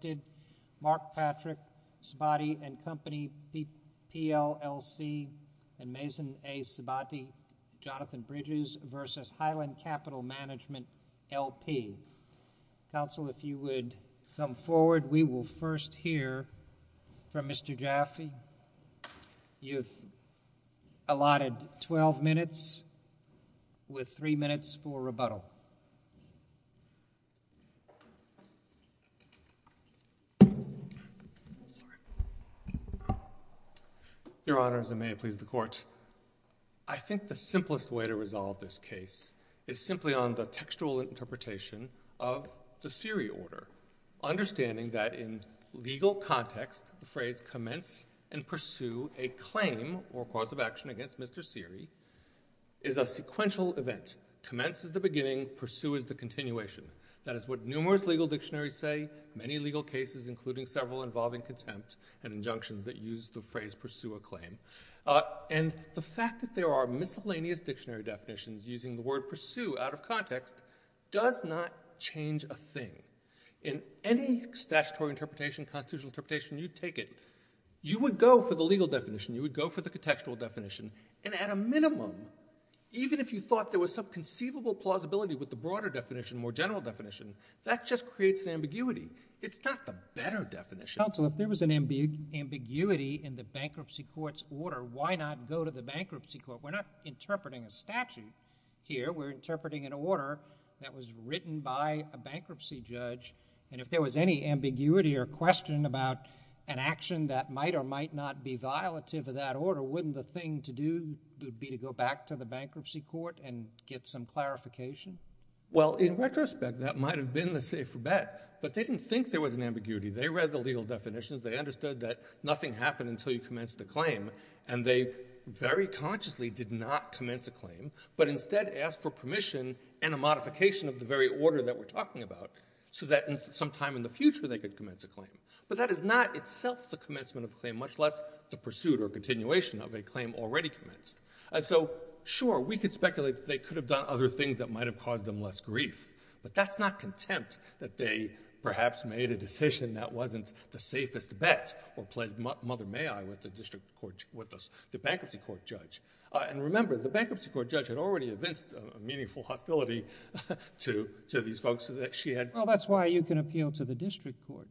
v. Highland Capital Management, L.P. Council, if you would come forward. We will first hear from Mr. Jaffe. Mr. Jaffe, you have allotted 12 minutes with 3 minutes for rebuttal. Your Honors, and may it please the Court. I think the simplest way to resolve this case is simply on the textual interpretation of the Siri order, understanding that in legal context the phrase commence and pursue a claim or cause of action against Mr. Siri is a sequential event. Commence is the beginning, pursue is the continuation. That is what numerous legal dictionaries say, many legal cases including several involving contempt and injunctions that use the phrase pursue a claim. And the fact that there are miscellaneous dictionary definitions using the word pursue out of context does not change a thing. In any statutory interpretation, constitutional interpretation, you take it, you would go for the legal definition, you would go for the contextual definition, and at a minimum, even if you thought there was some conceivable plausibility with the broader definition, more general definition, that just creates an ambiguity. It's not the better definition. Counsel, if there was an ambiguity in the bankruptcy court's order, why not go to the bankruptcy court? We're not interpreting a statute here, we're interpreting an order that was written by a bankruptcy judge, and if there was any ambiguity or question about an action that might or might not be violative of that order, wouldn't the thing to do would be to go back to the bankruptcy court and get some clarification? Well, in retrospect, that might have been the safer bet, but they didn't think there was an ambiguity. They read the legal definitions, they understood that nothing happened until you commenced the claim, and they very consciously did not commence a claim, but instead asked for permission and a modification of the very order that we're talking about, so that sometime in the future they could commence a claim. But that is not itself the commencement of the claim, much less the pursuit or continuation of a claim already commenced. And so, sure, we could speculate that they could have done other things that might have caused them less grief, but that's not contempt that they perhaps made a decision that wasn't the safest bet or pled mother may I with the bankruptcy court judge. And remember, the bankruptcy court judge had already evinced a meaningful hostility to these folks. Well, that's why you can appeal to the district court,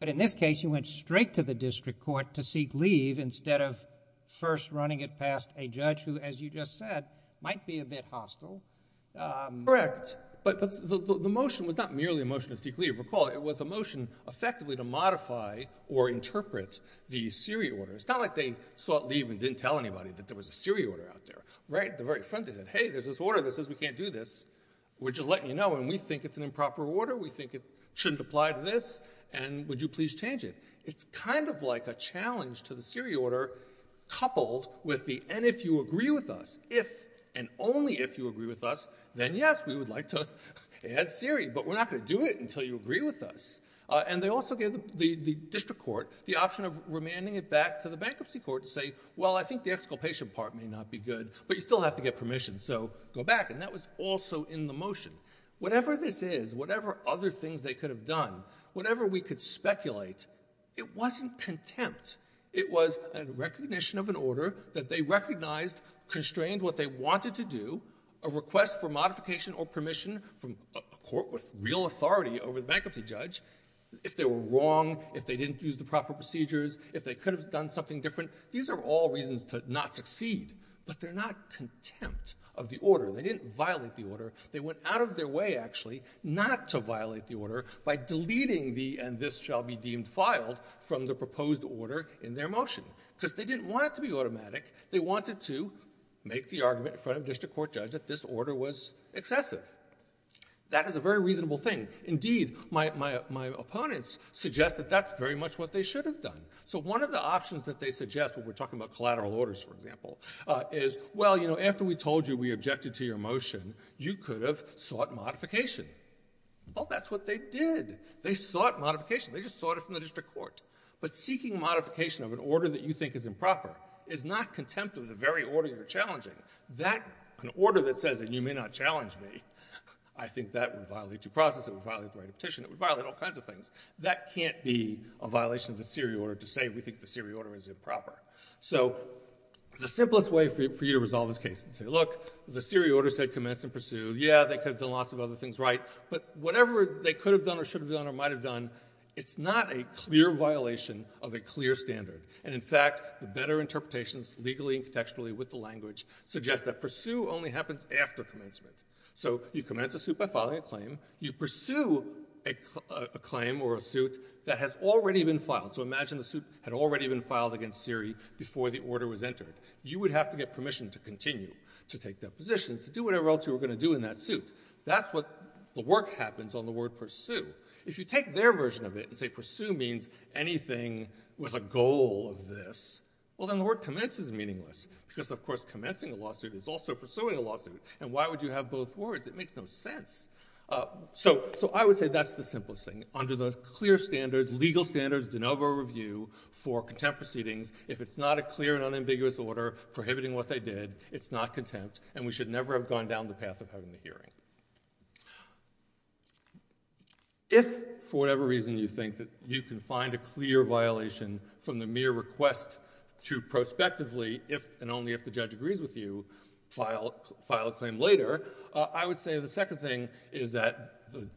but in this case you went straight to the district court to seek leave instead of first running it past a judge who, as you just said, might be a bit hostile. Correct, but the motion was not merely a motion to seek leave. If you recall, it was a motion effectively to modify or interpret the Siri order. It's not like they sought leave and didn't tell anybody that there was a Siri order out there, right? At the very front they said, hey, there's this order that says we can't do this, we're just letting you know, and we think it's an improper order, we think it shouldn't apply to this, and would you please change it? It's kind of like a challenge to the Siri order coupled with the, and if you agree with us, if and only if you agree with us, then yes, we would like to add Siri, but we're not going to do it until you agree with us, and they also gave the district court the option of remanding it back to the bankruptcy court to say, well, I think the exculpation part may not be good, but you still have to get permission, so go back, and that was also in the motion. Whatever this is, whatever other things they could have done, whatever we could speculate, it wasn't contempt. It was a recognition of an order that they recognized constrained what they wanted to do, a request for modification or permission from a court with real authority over the bankruptcy judge, if they were wrong, if they didn't use the proper procedures, if they could have done something different. These are all reasons to not succeed, but they're not contempt of the order. They didn't violate the order. They went out of their way, actually, not to violate the order by deleting the, and this shall be deemed filed, from the proposed order in their motion, because they didn't want it to be automatic. They wanted to make the argument in front of the district court judge that this order was excessive. That is a very reasonable thing. Indeed, my opponents suggest that that's very much what they should have done. One of the options that they suggest, when we're talking about collateral orders, for example, is, well, after we told you we objected to your motion, you could have sought modification. Well, that's what they did. They sought modification. They just sought it from the district court, but seeking modification of an order that you think is improper is not contempt of the very order you're challenging. That an order that says that you may not challenge me, I think that would violate due process. It would violate the right of petition. It would violate all kinds of things. That can't be a violation of the SERE order to say we think the SERE order is improper. So the simplest way for you to resolve this case is to say, look, the SERE order said commence and pursue. Yeah, they could have done lots of other things right, but whatever they could have done or should have done or might have done, it's not a clear violation of a clear standard. And in fact, the better interpretations legally and contextually with the language suggest that pursue only happens after commencement. So you commence a suit by filing a claim, you pursue a claim or a suit that has already been filed. So imagine the suit had already been filed against SERE before the order was entered. You would have to get permission to continue to take that position, to do whatever else you were going to do in that suit. That's what the work happens on the word pursue. If you take their version of it and say pursue means anything with a goal of this, well then the word commence is meaningless because of course commencing a lawsuit is also pursuing a lawsuit. And why would you have both words? It makes no sense. So I would say that's the simplest thing. Under the clear standards, legal standards, de novo review for contempt proceedings, if it's not a clear and unambiguous order prohibiting what they did, it's not contempt and we should never have gone down the path of having the hearing. If for whatever reason you think that you can find a clear violation from the mere request to prospectively, if and only if the judge agrees with you, file a claim later, I would say the second thing is that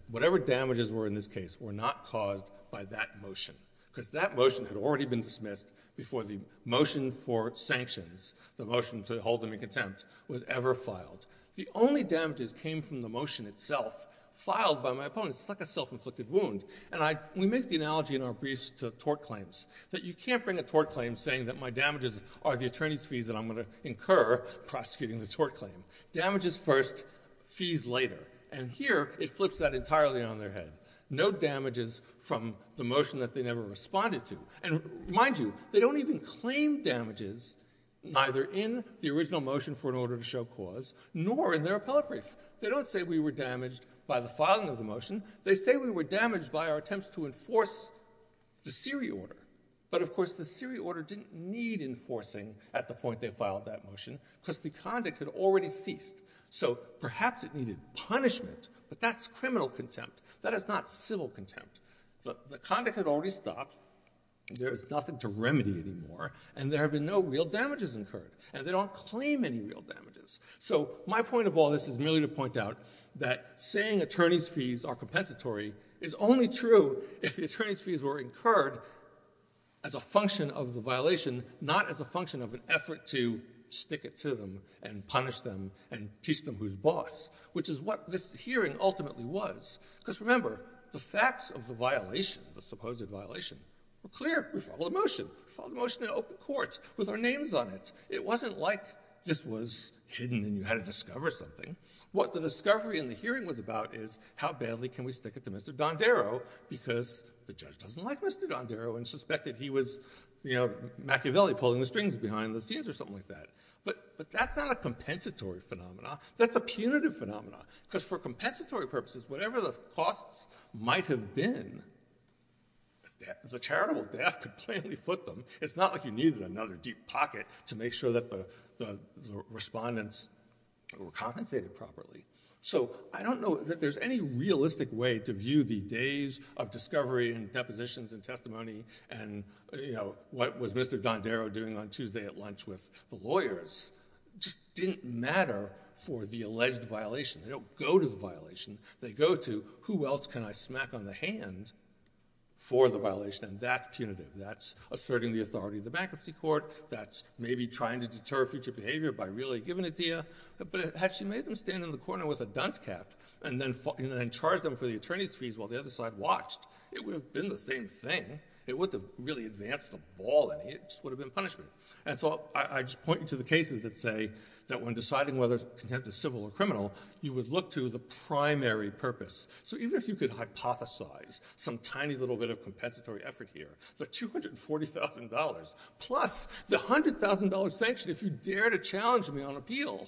whatever damages were in this case were not caused by that motion. Because that motion had already been dismissed before the motion for sanctions, the motion to hold them in contempt was ever filed. The only damages came from the motion itself filed by my opponents, like a self-inflicted wound. And we make the analogy in our briefs to tort claims, that you can't bring a tort claim saying that my damages are the attorney's fees that I'm going to incur prosecuting the tort claim. Damages first, fees later. And here it flips that entirely on their head. No damages from the motion that they never responded to. And mind you, they don't even claim damages neither in the original motion for an order to show cause nor in their appellate brief. They don't say we were damaged by the filing of the motion. They say we were damaged by our attempts to enforce the Siri order. But of course the Siri order didn't need enforcing at the point they filed that motion because the conduct had already ceased. So perhaps it needed punishment, but that's criminal contempt. That is not civil contempt. The conduct had already stopped. There's nothing to remedy anymore. And there have been no real damages incurred. And they don't claim any real damages. So my point of all this is merely to point out that saying attorney's fees are compensatory is only true if the attorney's fees were incurred as a function of the violation, not as a function of an effort to stick it to them and punish them and teach them who's boss, which is what this hearing ultimately was. Because remember, the facts of the violation, the supposed violation, were clear. We filed a motion. We filed a motion in open court with our names on it. It wasn't like this was hidden and you had to discover something. What the discovery in the hearing was about is how badly can we stick it to Mr. Dondero because the judge doesn't like Mr. Dondero and suspected he was Machiavelli pulling the strings behind the scenes or something like that. But that's not a compensatory phenomenon. That's a punitive phenomenon. Because for compensatory purposes, whatever the costs might have been, the charitable death could plainly foot them. It's not like you needed another deep pocket to make sure that the respondents were compensated properly. So I don't know that there's any realistic way to view the days of discovery and depositions and testimony and what was Mr. Dondero doing on Tuesday at lunch with the lawyers just didn't matter for the alleged violation. They don't go to the violation. They go to who else can I smack on the hand for the violation and that's punitive. That's asserting the authority of the bankruptcy court. That's maybe trying to deter future behavior by really giving it to you. But had she made them stand in the corner with a dunce cap and then charged them for the attorney's fees while the other side watched, it would have been the same thing. It wouldn't have really advanced the ball any. It just would have been punishment. And so I just point you to the cases that say that when deciding whether contempt is civil or criminal, you would look to the primary purpose. So even if you could hypothesize some tiny little bit of compensatory effort here, the $240,000 plus the $100,000 sanction, if you dare to challenge me on appeal,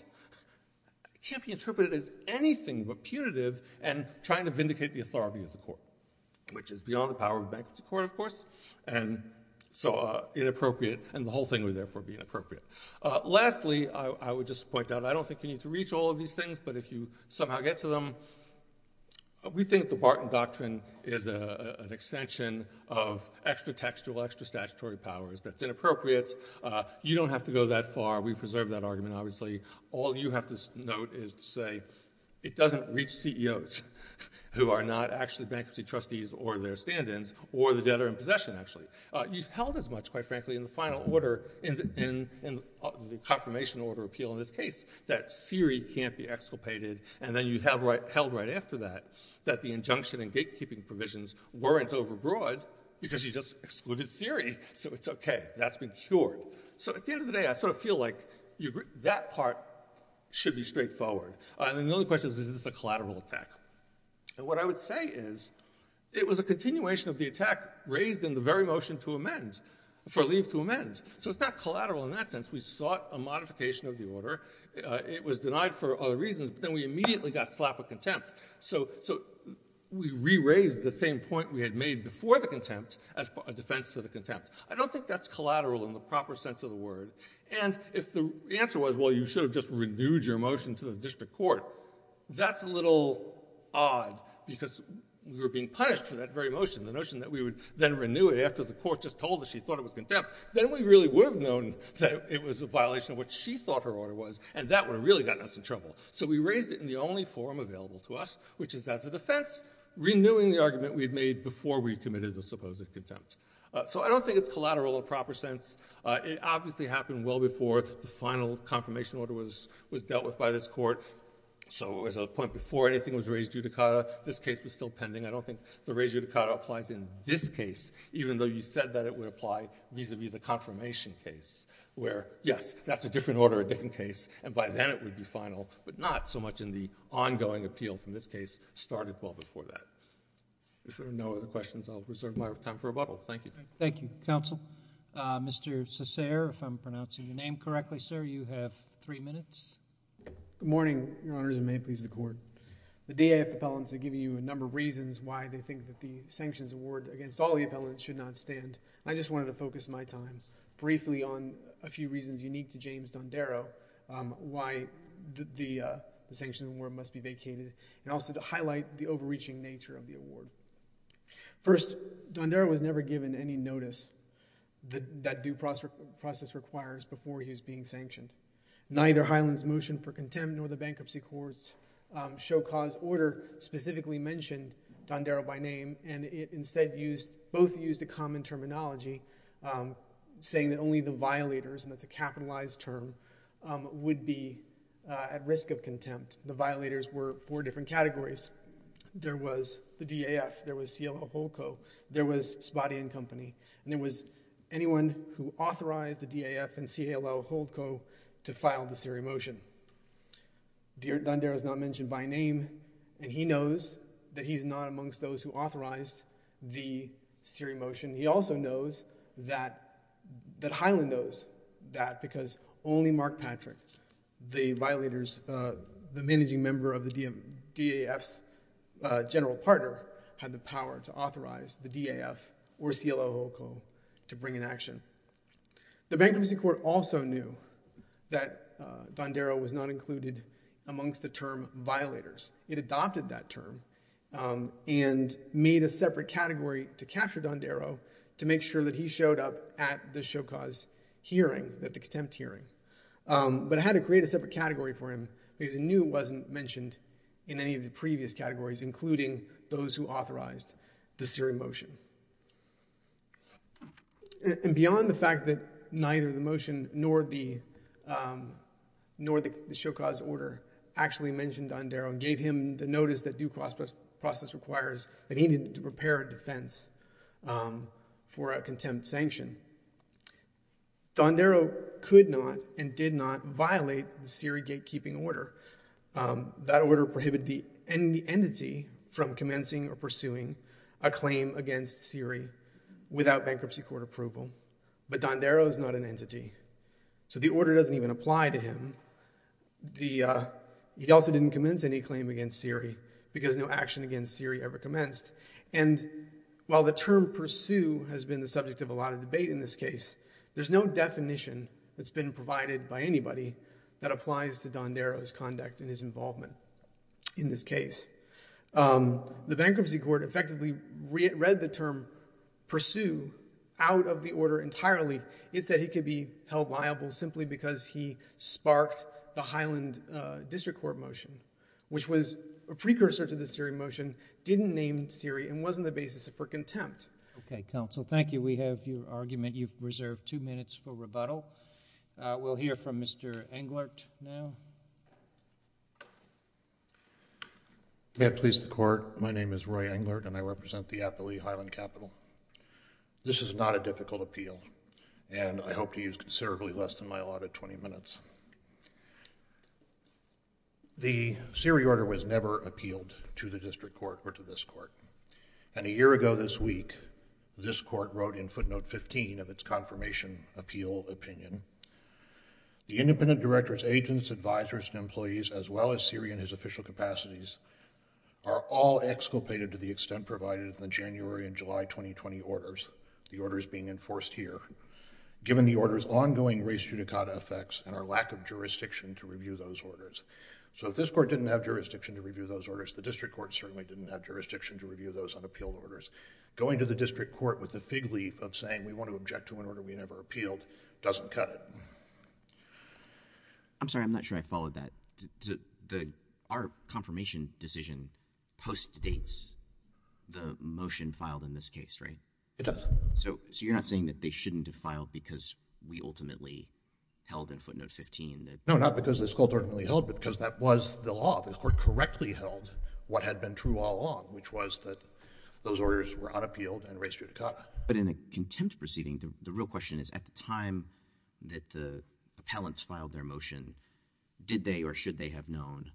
can't be interpreted as anything but punitive and trying to vindicate the authority of the court, which is beyond the power of bankruptcy court, of course, and so inappropriate. And the whole thing would therefore be inappropriate. Lastly, I would just point out, I don't think you need to reach all of these things, but if you somehow get to them, we think the Barton Doctrine is an extension of extra-textual, extra-statutory powers that's inappropriate. You don't have to go that far. We preserve that argument, obviously. All you have to note is to say it doesn't reach CEOs who are not actually bankruptcy trustees or their stand-ins or the debtor in possession, actually. You've held as much, quite frankly, in the final order, in the confirmation order appeal in this case, that Siri can't be exculpated, and then you held right after that that the injunction and gatekeeping provisions weren't overbroad because you just excluded Siri. So it's okay. That's been cured. So at the end of the day, I sort of feel like that part should be straightforward. I mean, the only question is, is this a collateral attack? What I would say is, it was a continuation of the attack raised in the very motion to amend, for leave to amend. So it's not collateral in that sense. We sought a modification of the order. It was denied for other reasons, but then we immediately got slap of contempt. So we re-raised the same point we had made before the contempt as a defense to the contempt. I don't think that's collateral in the proper sense of the word. And if the answer was, well, you should have just renewed your motion to the district court, that's a little odd, because we were being punished for that very motion, the notion that we would then renew it after the court just told us she thought it was contempt. Then we really would have known that it was a violation of what she thought her order was, and that would have really gotten us in trouble. So we raised it in the only forum available to us, which is as a defense, renewing the argument we had made before we committed the supposed contempt. So I don't think it's collateral in the proper sense. It obviously happened well before the final confirmation order was dealt with by this court. So as a point, before anything was raised judicata, this case was still pending. I don't think the raised judicata applies in this case, even though you said that it would apply vis-a-vis the confirmation case, where, yes, that's a different order, a different case, and by then it would be final, but not so much in the ongoing appeal from this case started well before that. If there are no other questions, I'll reserve my time for rebuttal. Thank you. Thank you. Counsel. Mr. Cesare, if I'm pronouncing your name correctly, sir, you have three minutes. Good morning, Your Honors, and may it please the Court. The DAF appellants have given you a number of reasons why they think that the sanctions award against all the appellants should not stand. I just wanted to focus my time briefly on a few reasons unique to James Dondero, why the sanctions award must be vacated, and also to highlight the overreaching nature of the award. First, Dondero was never given any notice that due process requires before he was being sanctioned. Neither Highland's motion for contempt nor the Bankruptcy Court's show cause order specifically mentioned Dondero by name, and it instead both used a common terminology, saying that only the violators, and that's a capitalized term, would be at risk of contempt. The violators were four different categories. There was the DAF, there was CLL Holdco, there was Spotty and Company, and there was anyone who authorized the DAF and CLL Holdco to file the Siri motion. Dondero is not mentioned by name, and he knows that he's not amongst those who authorized the Siri motion. He also knows that Highland knows that because only Mark Patrick, the violators, the managing member of the DAF's general partner, had the power to authorize the DAF or CLL Holdco to bring an action. The Bankruptcy Court also knew that Dondero was not included amongst the term violators. It adopted that term and made a separate category to capture Dondero to make sure that he showed up at the show cause hearing, at the contempt hearing. But it had to create a separate category for him because it knew it wasn't mentioned in any of the previous categories, including those who authorized the Siri motion. And beyond the fact that neither the motion nor the show cause order actually mentioned Dondero and gave him the notice that due process requires that he needed to prepare a defense for a contempt sanction, Dondero could not and did not violate the Siri gatekeeping order. That order prohibited the entity from commencing or pursuing a claim against Siri without Bankruptcy Court approval. But Dondero is not an entity, so the order doesn't even apply to him. He also didn't commence any claim against Siri because no action against Siri ever commenced. And while the term pursue has been the subject of a lot of debate in this case, there's no definition that's been provided by anybody that applies to Dondero's conduct and his involvement in this case. The Bankruptcy Court effectively read the term pursue out of the order entirely. It said he could be held liable simply because he sparked the Highland District Court motion, which was a precursor to the Siri motion, didn't name Siri, and wasn't the basis for contempt. Okay, counsel. Thank you. We have your argument. You've reserved two minutes for rebuttal. We'll hear from Mr. Englert now. May it please the Court, my name is Roy Englert, and I represent the Appalooh Highland Capital. This is not a difficult appeal, and I hope to use considerably less than my allotted 20 minutes. The Siri order was never appealed to the District Court or to this Court, and a year ago this week, this Court wrote in footnote 15 of its confirmation appeal opinion, the independent directors, agents, advisors, and employees, as well as Siri and his official capacities, are all exculpated to the extent provided in the January and July 2020 orders, the orders being enforced here, given the order's ongoing race judicata effects and our lack of jurisdiction to review those orders. So if this Court didn't have jurisdiction to review those orders, the District Court certainly didn't have jurisdiction to review those unappealed orders. Going to the District Court with the fig leaf of saying we want to object to an order we never appealed doesn't cut it. I'm sorry, I'm not sure I followed that. Our confirmation decision postdates the motion filed in this case, right? It does. So you're not saying that they shouldn't have filed because we ultimately held in footnote 15? No, not because this Court ultimately held, but because that was the law. The Court correctly held what had been true all along, which was that those orders were unappealed and race judicata. But in a contempt proceeding, the real question is, at the time that the appellants filed their motion, did they or should they have known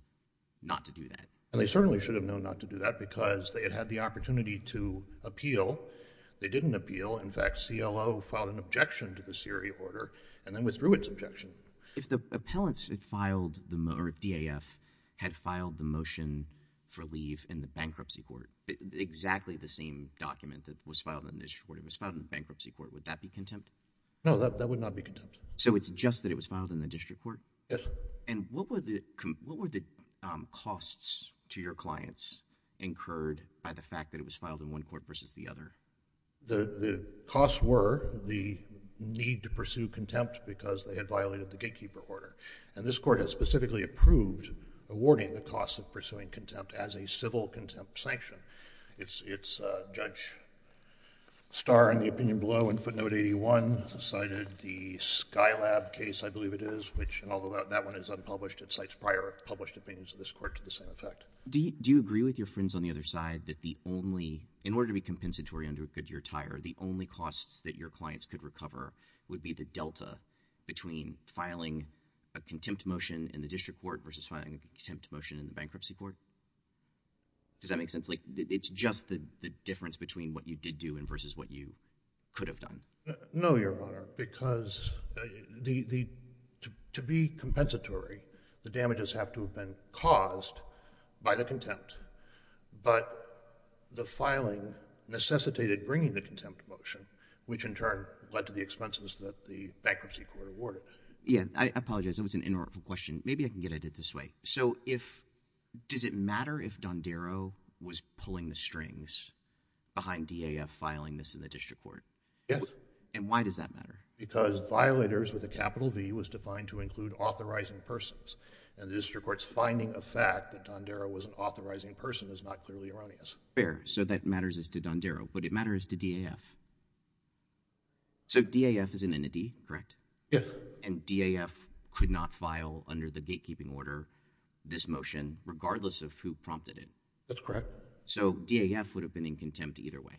not to do that? And they certainly should have known not to do that because they had had the opportunity to appeal. They didn't appeal. In fact, CLO filed an objection to the Siri order and then withdrew its objection. If the appellants had filed, or DAF, had filed the motion for leave in the Bankruptcy Court, exactly the same document that was filed in the District Court, it was filed in the Bankruptcy Court. Would that be contempt? No, that would not be contempt. So it's just that it was filed in the District Court? Yes. And what were the costs to your clients incurred by the fact that it was filed in one court versus the other? The costs were the need to pursue contempt because they had violated the gatekeeper order. And this Court has specifically approved awarding the cost of pursuing contempt as a civil contempt sanction. It's Judge Starr, in the opinion below, in footnote 81, cited the Skylab case, I believe it is, which, although that one is unpublished, it cites prior published opinions of this Court to the same effect. Do you agree with your friends on the other side that the only, in order to be compensatory under a good year tire, the only costs that your clients could recover would be the delta between filing a contempt motion in the District Court versus filing a contempt motion in the Bankruptcy Court? Does that make sense? Like, it's just the difference between what you did do and versus what you could have done. No, Your Honor, because to be compensatory, the damages have to have been caused by the contempt. But the filing necessitated bringing the contempt motion, which in turn led to the expenses that the Bankruptcy Court awarded. Yeah. I apologize. That was an inartful question. Maybe I can get at it this way. So does it matter if Dondero was pulling the strings behind DAF filing this in the District Court? Yes. And why does that matter? Because violators with a capital V was defined to include authorizing persons, and the District Court's finding of fact that Dondero was an authorizing person is not clearly erroneous. Fair. So that matters as to Dondero. But it matters to DAF. So DAF is an entity, correct? Yes. And DAF could not file, under the gatekeeping order, this motion regardless of who prompted it? That's correct. So DAF would have been in contempt either way?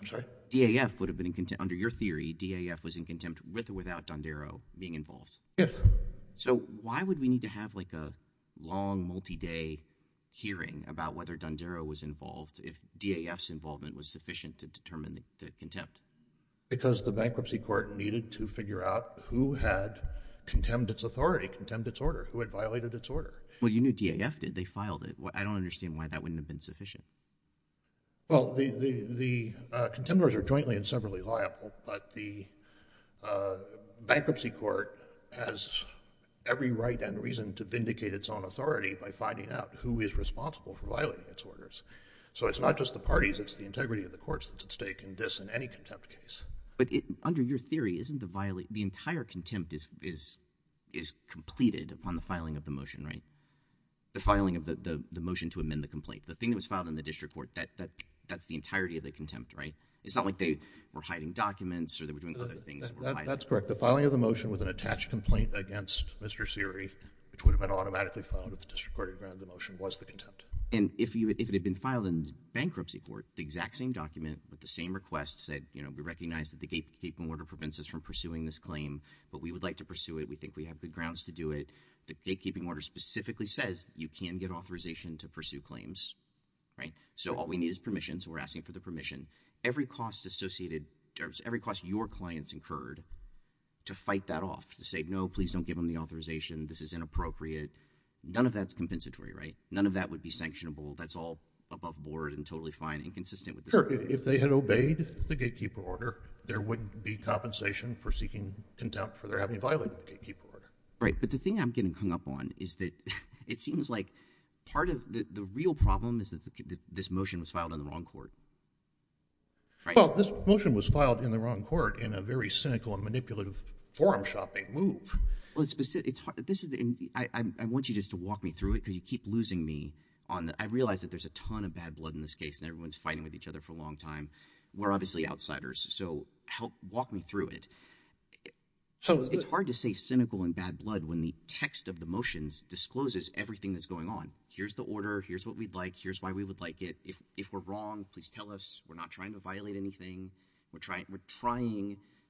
I'm sorry? DAF would have been in contempt. Under your theory, DAF was in contempt with or without Dondero being involved? Yes. So why would we need to have like a long, multi-day hearing about whether Dondero was involved if DAF's involvement was sufficient to determine the contempt? Because the Bankruptcy Court needed to figure out who had contemned its authority, contemned its order, who had violated its order. Well, you knew DAF did. They filed it. I don't understand why that wouldn't have been sufficient. Well, the contenders are jointly and severally liable, but the Bankruptcy Court has every right and reason to vindicate its own authority by finding out who is responsible for violating its orders. So it's not just the parties. It's the integrity of the courts that's at stake in this and any contempt case. But under your theory, isn't the entire contempt completed upon the filing of the motion, right? The filing of the motion to amend the complaint. The thing that was filed in the district court, that's the entirety of the contempt, right? It's not like they were hiding documents or they were doing other things. That's correct. The filing of the motion with an attached complaint against Mr. Seery, which would have been automatically filed if the district court had granted the motion, was the contempt. And if it had been filed in the Bankruptcy Court, the exact same document with the same request said, you know, we recognize that the gatekeeping order prevents us from pursuing this claim, but we would like to pursue it. We think we have good grounds to do it. The gatekeeping order specifically says you can get authorization to pursue claims, right? So all we need is permission. So we're asking for the permission. Every cost associated, every cost your clients incurred to fight that off, to say, no, please don't give them the authorization. This is inappropriate. None of that's compensatory, right? None of that would be sanctionable. That's all above board and totally fine and consistent with the circuit. If they had obeyed the gatekeeper order, there wouldn't be compensation for seeking contempt for their having violated the gatekeeper order. Right. But the thing I'm getting hung up on is that it seems like part of the real problem is that this motion was filed in the wrong court, right? Well, this motion was filed in the wrong court in a very cynical and manipulative forum shopping move. Well, it's specific. It's hard. This is the I want you just to walk me through it because you keep losing me on the I realize that there's a ton of bad blood in this case and everyone's fighting with each other for a long time. We're obviously outsiders. So help walk me through it. It's hard to say cynical and bad blood when the text of the motions discloses everything that's going on. Here's the order. Here's what we'd like. Here's why we would like it. If we're wrong, please tell us. We're not trying to violate anything. We're trying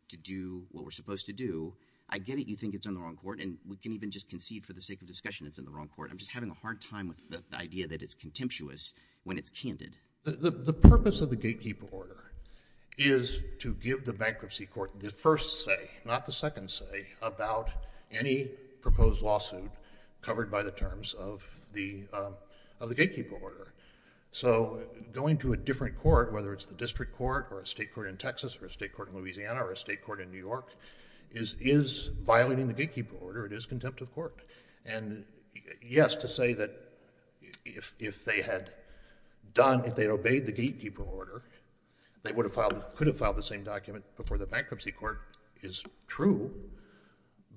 to do what we're supposed to do. I get it. You think it's in the wrong court and we can even just concede for the sake of discussion it's in the wrong court. I'm just having a hard time with the idea that it's contemptuous when it's candid. The purpose of the gatekeeper order is to give the bankruptcy court the first say, not the second say, about any proposed lawsuit covered by the terms of the gatekeeper order. So going to a different court, whether it's the district court or a state court in Texas or a state court in Louisiana or a state court in New York, is violating the gatekeeper order. It is contempt of court. And yes, to say that if they had done, if they'd obeyed the gatekeeper order, they would have filed, could have filed the same document before the bankruptcy court is true.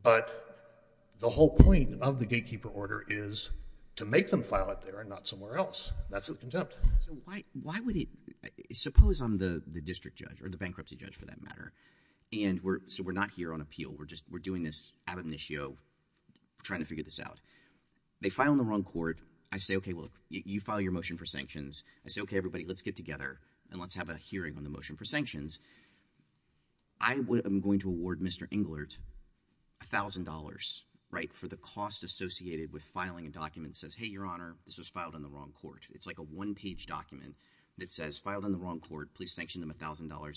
But the whole point of the gatekeeper order is to make them file it there and not somewhere else. That's contempt. So why would it, suppose I'm the district judge or the bankruptcy judge for that matter and we're, so we're not here on appeal. We're just, we're doing this ad amnesio, trying to figure this out. They file on the wrong court. I say, okay, well you file your motion for sanctions. I say, okay, everybody, let's get together and let's have a hearing on the motion for sanctions. I would, I'm going to award Mr. Englert a thousand dollars, right? For the cost associated with filing a document that says, hey, your honor, this was filed on the wrong court. It's like a one page document that says filed on the wrong court, please sanction them a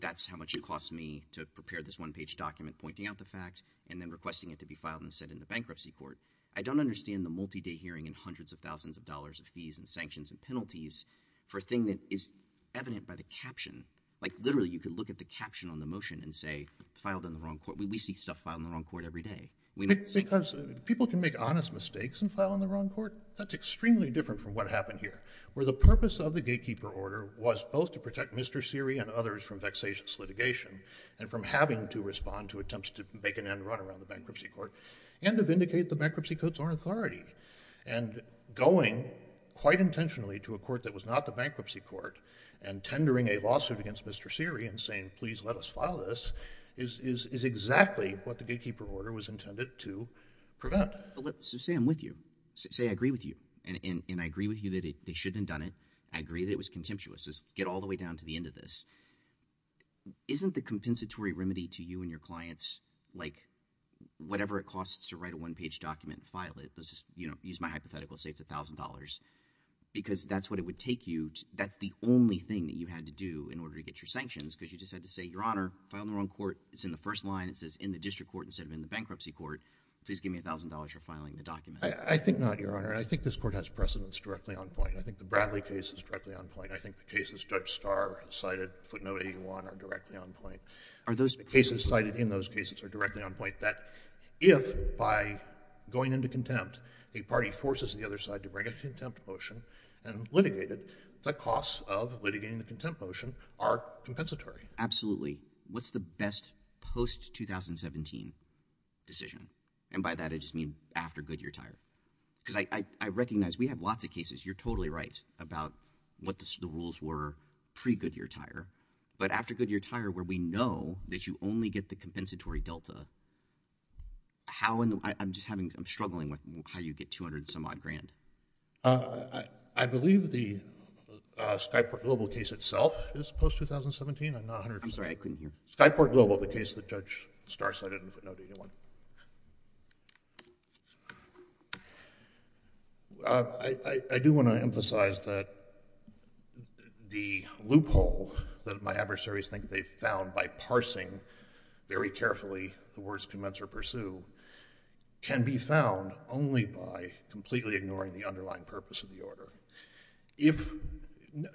That's how much it costs me to prepare this one page document, pointing out the fact and then requesting it to be filed and sent in the bankruptcy court. I don't understand the multi-day hearing and hundreds of thousands of dollars of fees and sanctions and penalties for a thing that is evident by the caption. Like literally you could look at the caption on the motion and say, filed on the wrong court. We see stuff filed on the wrong court every day. Because people can make honest mistakes and file on the wrong court. That's extremely different from what happened here where the purpose of the gatekeeper order was both to protect Mr. Seary and others from vexatious litigation and from having to respond to attempts to make an end run around the bankruptcy court and to vindicate the bankruptcy courts on authority and going quite intentionally to a court that was not the bankruptcy court and tendering a lawsuit against Mr. Seary and saying, please let us file this is, is, is exactly what the gatekeeper order was intended to prevent. But let's just say I'm with you, say I agree with you and I agree with you that they shouldn't done it. I agree that it was contemptuous. Let's just get all the way down to the end of this. Isn't the compensatory remedy to you and your clients like whatever it costs to write a one page document and file it, let's just, you know, use my hypothetical, say it's $1,000 because that's what it would take you to, that's the only thing that you had to do in order to get your sanctions because you just had to say, your honor, filed on the wrong court. It's in the first line. It says in the district court instead of in the bankruptcy court, please give me $1,000 for filing the document. I think not, your honor. I think this court has precedence directly on point. I think the Bradley case is directly on point. I think the cases Judge Starr has cited, footnote 81, are directly on point. Are those— The cases cited in those cases are directly on point that if by going into contempt, a party forces the other side to bring a contempt motion and litigate it, the costs of litigating the contempt motion are compensatory. Absolutely. What's the best post-2017 decision? And by that I just mean after Goodyear Tire because I recognize we have lots of cases. You're totally right about what the rules were pre-Goodyear Tire. But after Goodyear Tire where we know that you only get the compensatory delta, how in the—I'm just having—I'm struggling with how you get $200 and some odd grand. I believe the Skyport Global case itself is post-2017. I'm not 100%— I'm sorry. I couldn't hear. Skyport Global, the case that Judge Starr cited in the footnote 81. I do want to emphasize that the loophole that my adversaries think they found by parsing very carefully the words commence or pursue can be found only by completely ignoring the underlying purpose of the order. If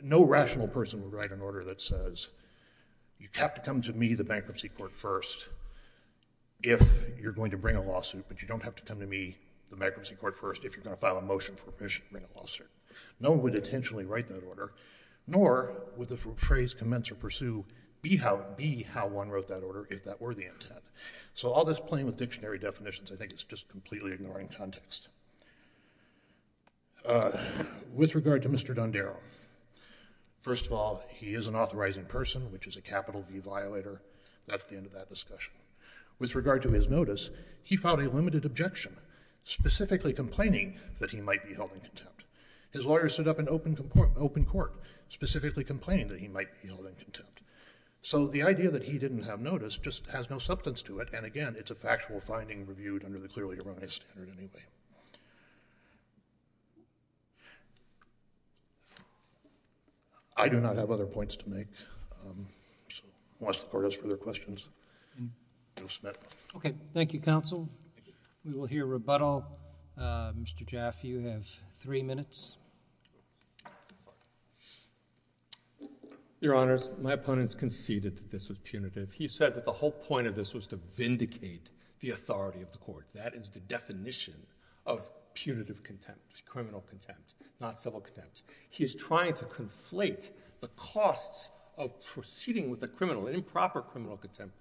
no rational person would write an order that says you have to come to me, the bankruptcy court, first if you're going to bring a lawsuit, but you don't have to come to me, the bankruptcy court, first if you're going to file a motion for permission to bring a lawsuit, no one would intentionally write that order, nor would the phrase commence or pursue be how one wrote that order if that were the intent. So all this playing with dictionary definitions, I think it's just completely ignoring context. With regard to Mr. Dondero, first of all, he is an authorizing person, which is a capital V violator. That's the end of that discussion. With regard to his notice, he filed a limited objection, specifically complaining that he might be held in contempt. His lawyer stood up in open court, specifically complaining that he might be held in contempt. So the idea that he didn't have notice just has no substance to it, and again, it's a factual finding reviewed under the clearly erroneous standard anyway. I do not have other points to make, so unless the Court has further questions, I will submit. Okay. Thank you, Counsel. Thank you. We will hear rebuttal. Mr. Jaffe, you have three minutes. Your Honors, my opponents conceded that this was punitive. He said that the whole point of this was to vindicate the authority of the Court. That is the definition of punitive contempt, criminal contempt, not civil contempt. He is trying to conflate the costs of proceeding with a criminal, an improper criminal contempt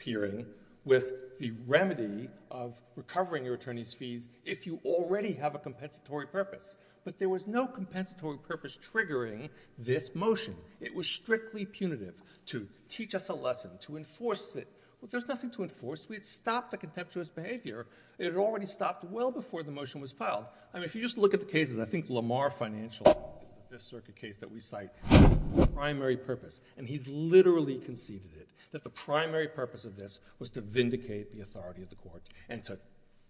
hearing with the remedy of recovering your attorney's fees if you already have a compensatory purpose. But there was no compensatory purpose triggering this motion. It was strictly punitive, to teach us a lesson, to enforce it. There's nothing to enforce. We had stopped the contemptuous behavior. It had already stopped well before the motion was filed. I mean, if you just look at the cases, I think Lamar Financial, this circuit case that we cite, the primary purpose, and he's literally conceded it, that the primary purpose of this was to vindicate the authority of the Court and to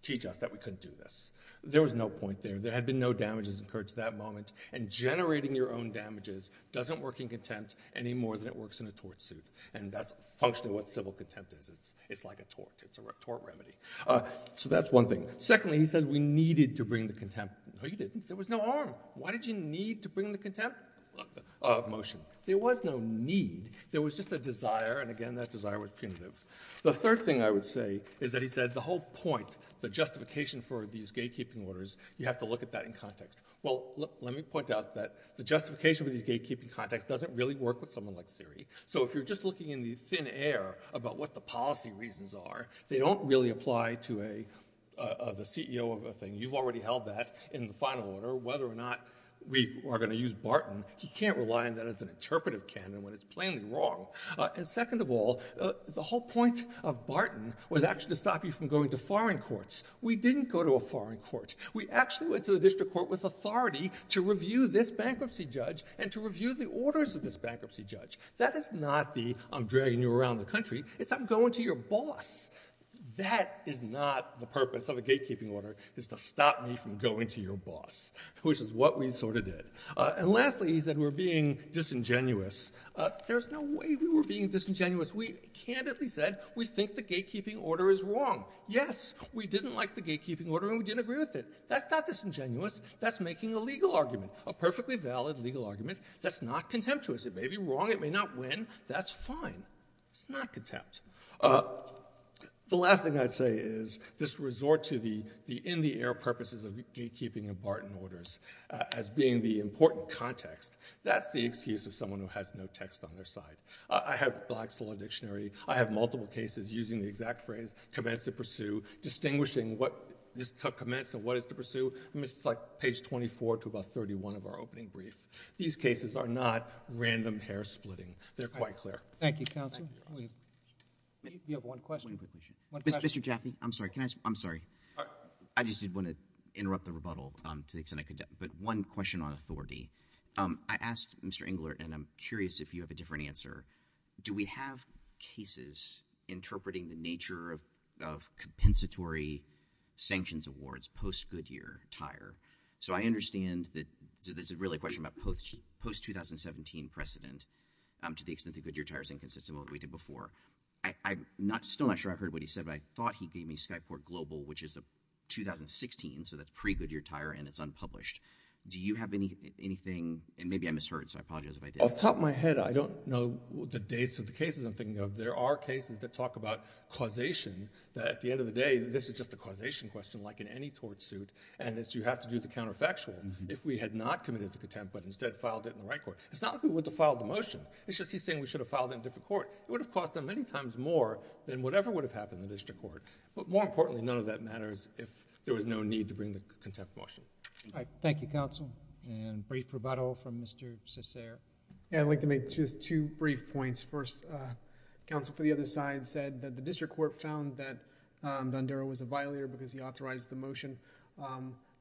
teach us that we couldn't do this. There was no point there. There had been no damages incurred to that moment, and generating your own damages doesn't work in contempt any more than it works in a tort suit, and that's functionally what contempt is. It's like a tort. It's a tort remedy. So that's one thing. Secondly, he said we needed to bring the contempt. No, you didn't. There was no arm. Why did you need to bring the contempt motion? There was no need. There was just a desire, and again, that desire was punitive. The third thing I would say is that he said the whole point, the justification for these gatekeeping orders, you have to look at that in context. Well, let me point out that the justification for these gatekeeping contexts doesn't really work with someone like Siri. So if you're just looking in the thin air about what the policy reasons are, they don't really apply to the CEO of a thing. You've already held that in the final order. Whether or not we are going to use Barton, he can't rely on that as an interpretive canon when it's plainly wrong. And second of all, the whole point of Barton was actually to stop you from going to foreign courts. We didn't go to a foreign court. We actually went to the District Court with authority to review this bankruptcy judge and to review the orders of this bankruptcy judge. That does not be I'm dragging you around the country. It's I'm going to your boss. That is not the purpose of a gatekeeping order, is to stop me from going to your boss, which is what we sort of did. And lastly, he said we're being disingenuous. There's no way we were being disingenuous. We candidly said we think the gatekeeping order is wrong. Yes, we didn't like the gatekeeping order and we didn't agree with it. That's not disingenuous. That's making a legal argument, a perfectly valid legal argument. That's not contemptuous. It may be wrong. It may not win. That's fine. It's not contempt. The last thing I'd say is this resort to the in-the-air purposes of gatekeeping and Barton orders as being the important context, that's the excuse of someone who has no text on their side. I have Black's Law Dictionary. I have multiple cases using the exact phrase, commence to pursue, distinguishing what this commenced and what it's to pursue, page 24 to about 31 of our opening brief. These cases are not random hair-splitting. They're quite clear. Thank you, counsel. You have one question. One quick question. Mr. Jaffee, I'm sorry. Can I ask? I'm sorry. I just did want to interrupt the rebuttal to the extent I could, but one question on authority. I asked Mr. Engler, and I'm curious if you have a different answer, do we have cases interpreting the nature of compensatory sanctions awards, post-Goodyear, tire? So I understand that this is really a question about post-2017 precedent to the extent that Goodyear tire is inconsistent with what we did before. I'm still not sure I heard what he said, but I thought he gave me Skyport Global, which is a 2016, so that's pre-Goodyear tire, and it's unpublished. Do you have anything, and maybe I misheard, so I apologize if I did. Off the top of my head, I don't know the dates of the cases I'm thinking of. There are cases that talk about causation, that at the end of the day, this is just a case that we have to do the counterfactual if we had not committed to contempt, but instead filed it in the right court. It's not that we would have filed the motion. It's just he's saying we should have filed it in a different court. It would have cost them many times more than whatever would have happened in the district court, but more importantly, none of that matters if there was no need to bring the contempt motion. All right. Thank you, counsel. Brief rebuttal from Mr. Cesar. I'd like to make just two brief points. First, counsel for the other side said that the district court found that Dondero was a violator because he authorized the motion.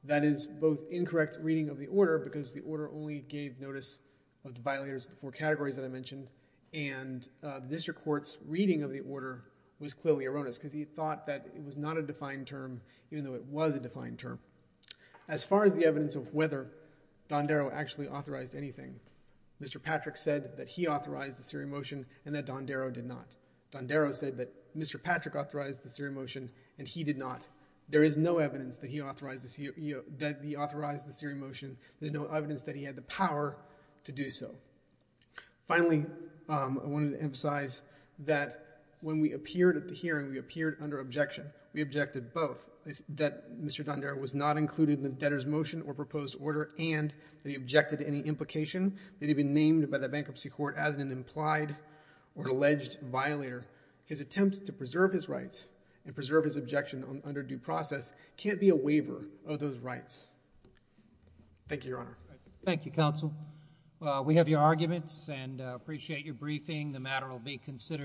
That is both incorrect reading of the order because the order only gave notice of the violators of the four categories that I mentioned, and the district court's reading of the order was clearly erroneous because he thought that it was not a defined term even though it was a defined term. As far as the evidence of whether Dondero actually authorized anything, Mr. Patrick said that he authorized the serial motion and that Dondero did not. Dondero said that Mr. Patrick authorized the serial motion and he did not. There is no evidence that he authorized the serial motion. There is no evidence that he had the power to do so. Finally, I wanted to emphasize that when we appeared at the hearing, we appeared under objection. We objected both that Mr. Dondero was not included in the debtor's motion or proposed order and that he objected to any implication that he'd been named by the bankruptcy court as an implied or alleged violator. His attempts to preserve his rights and preserve his objection under due process can't be a waiver of those rights. Thank you, Your Honor. Thank you, Counsel. We have your arguments and appreciate your briefing. The matter will be considered.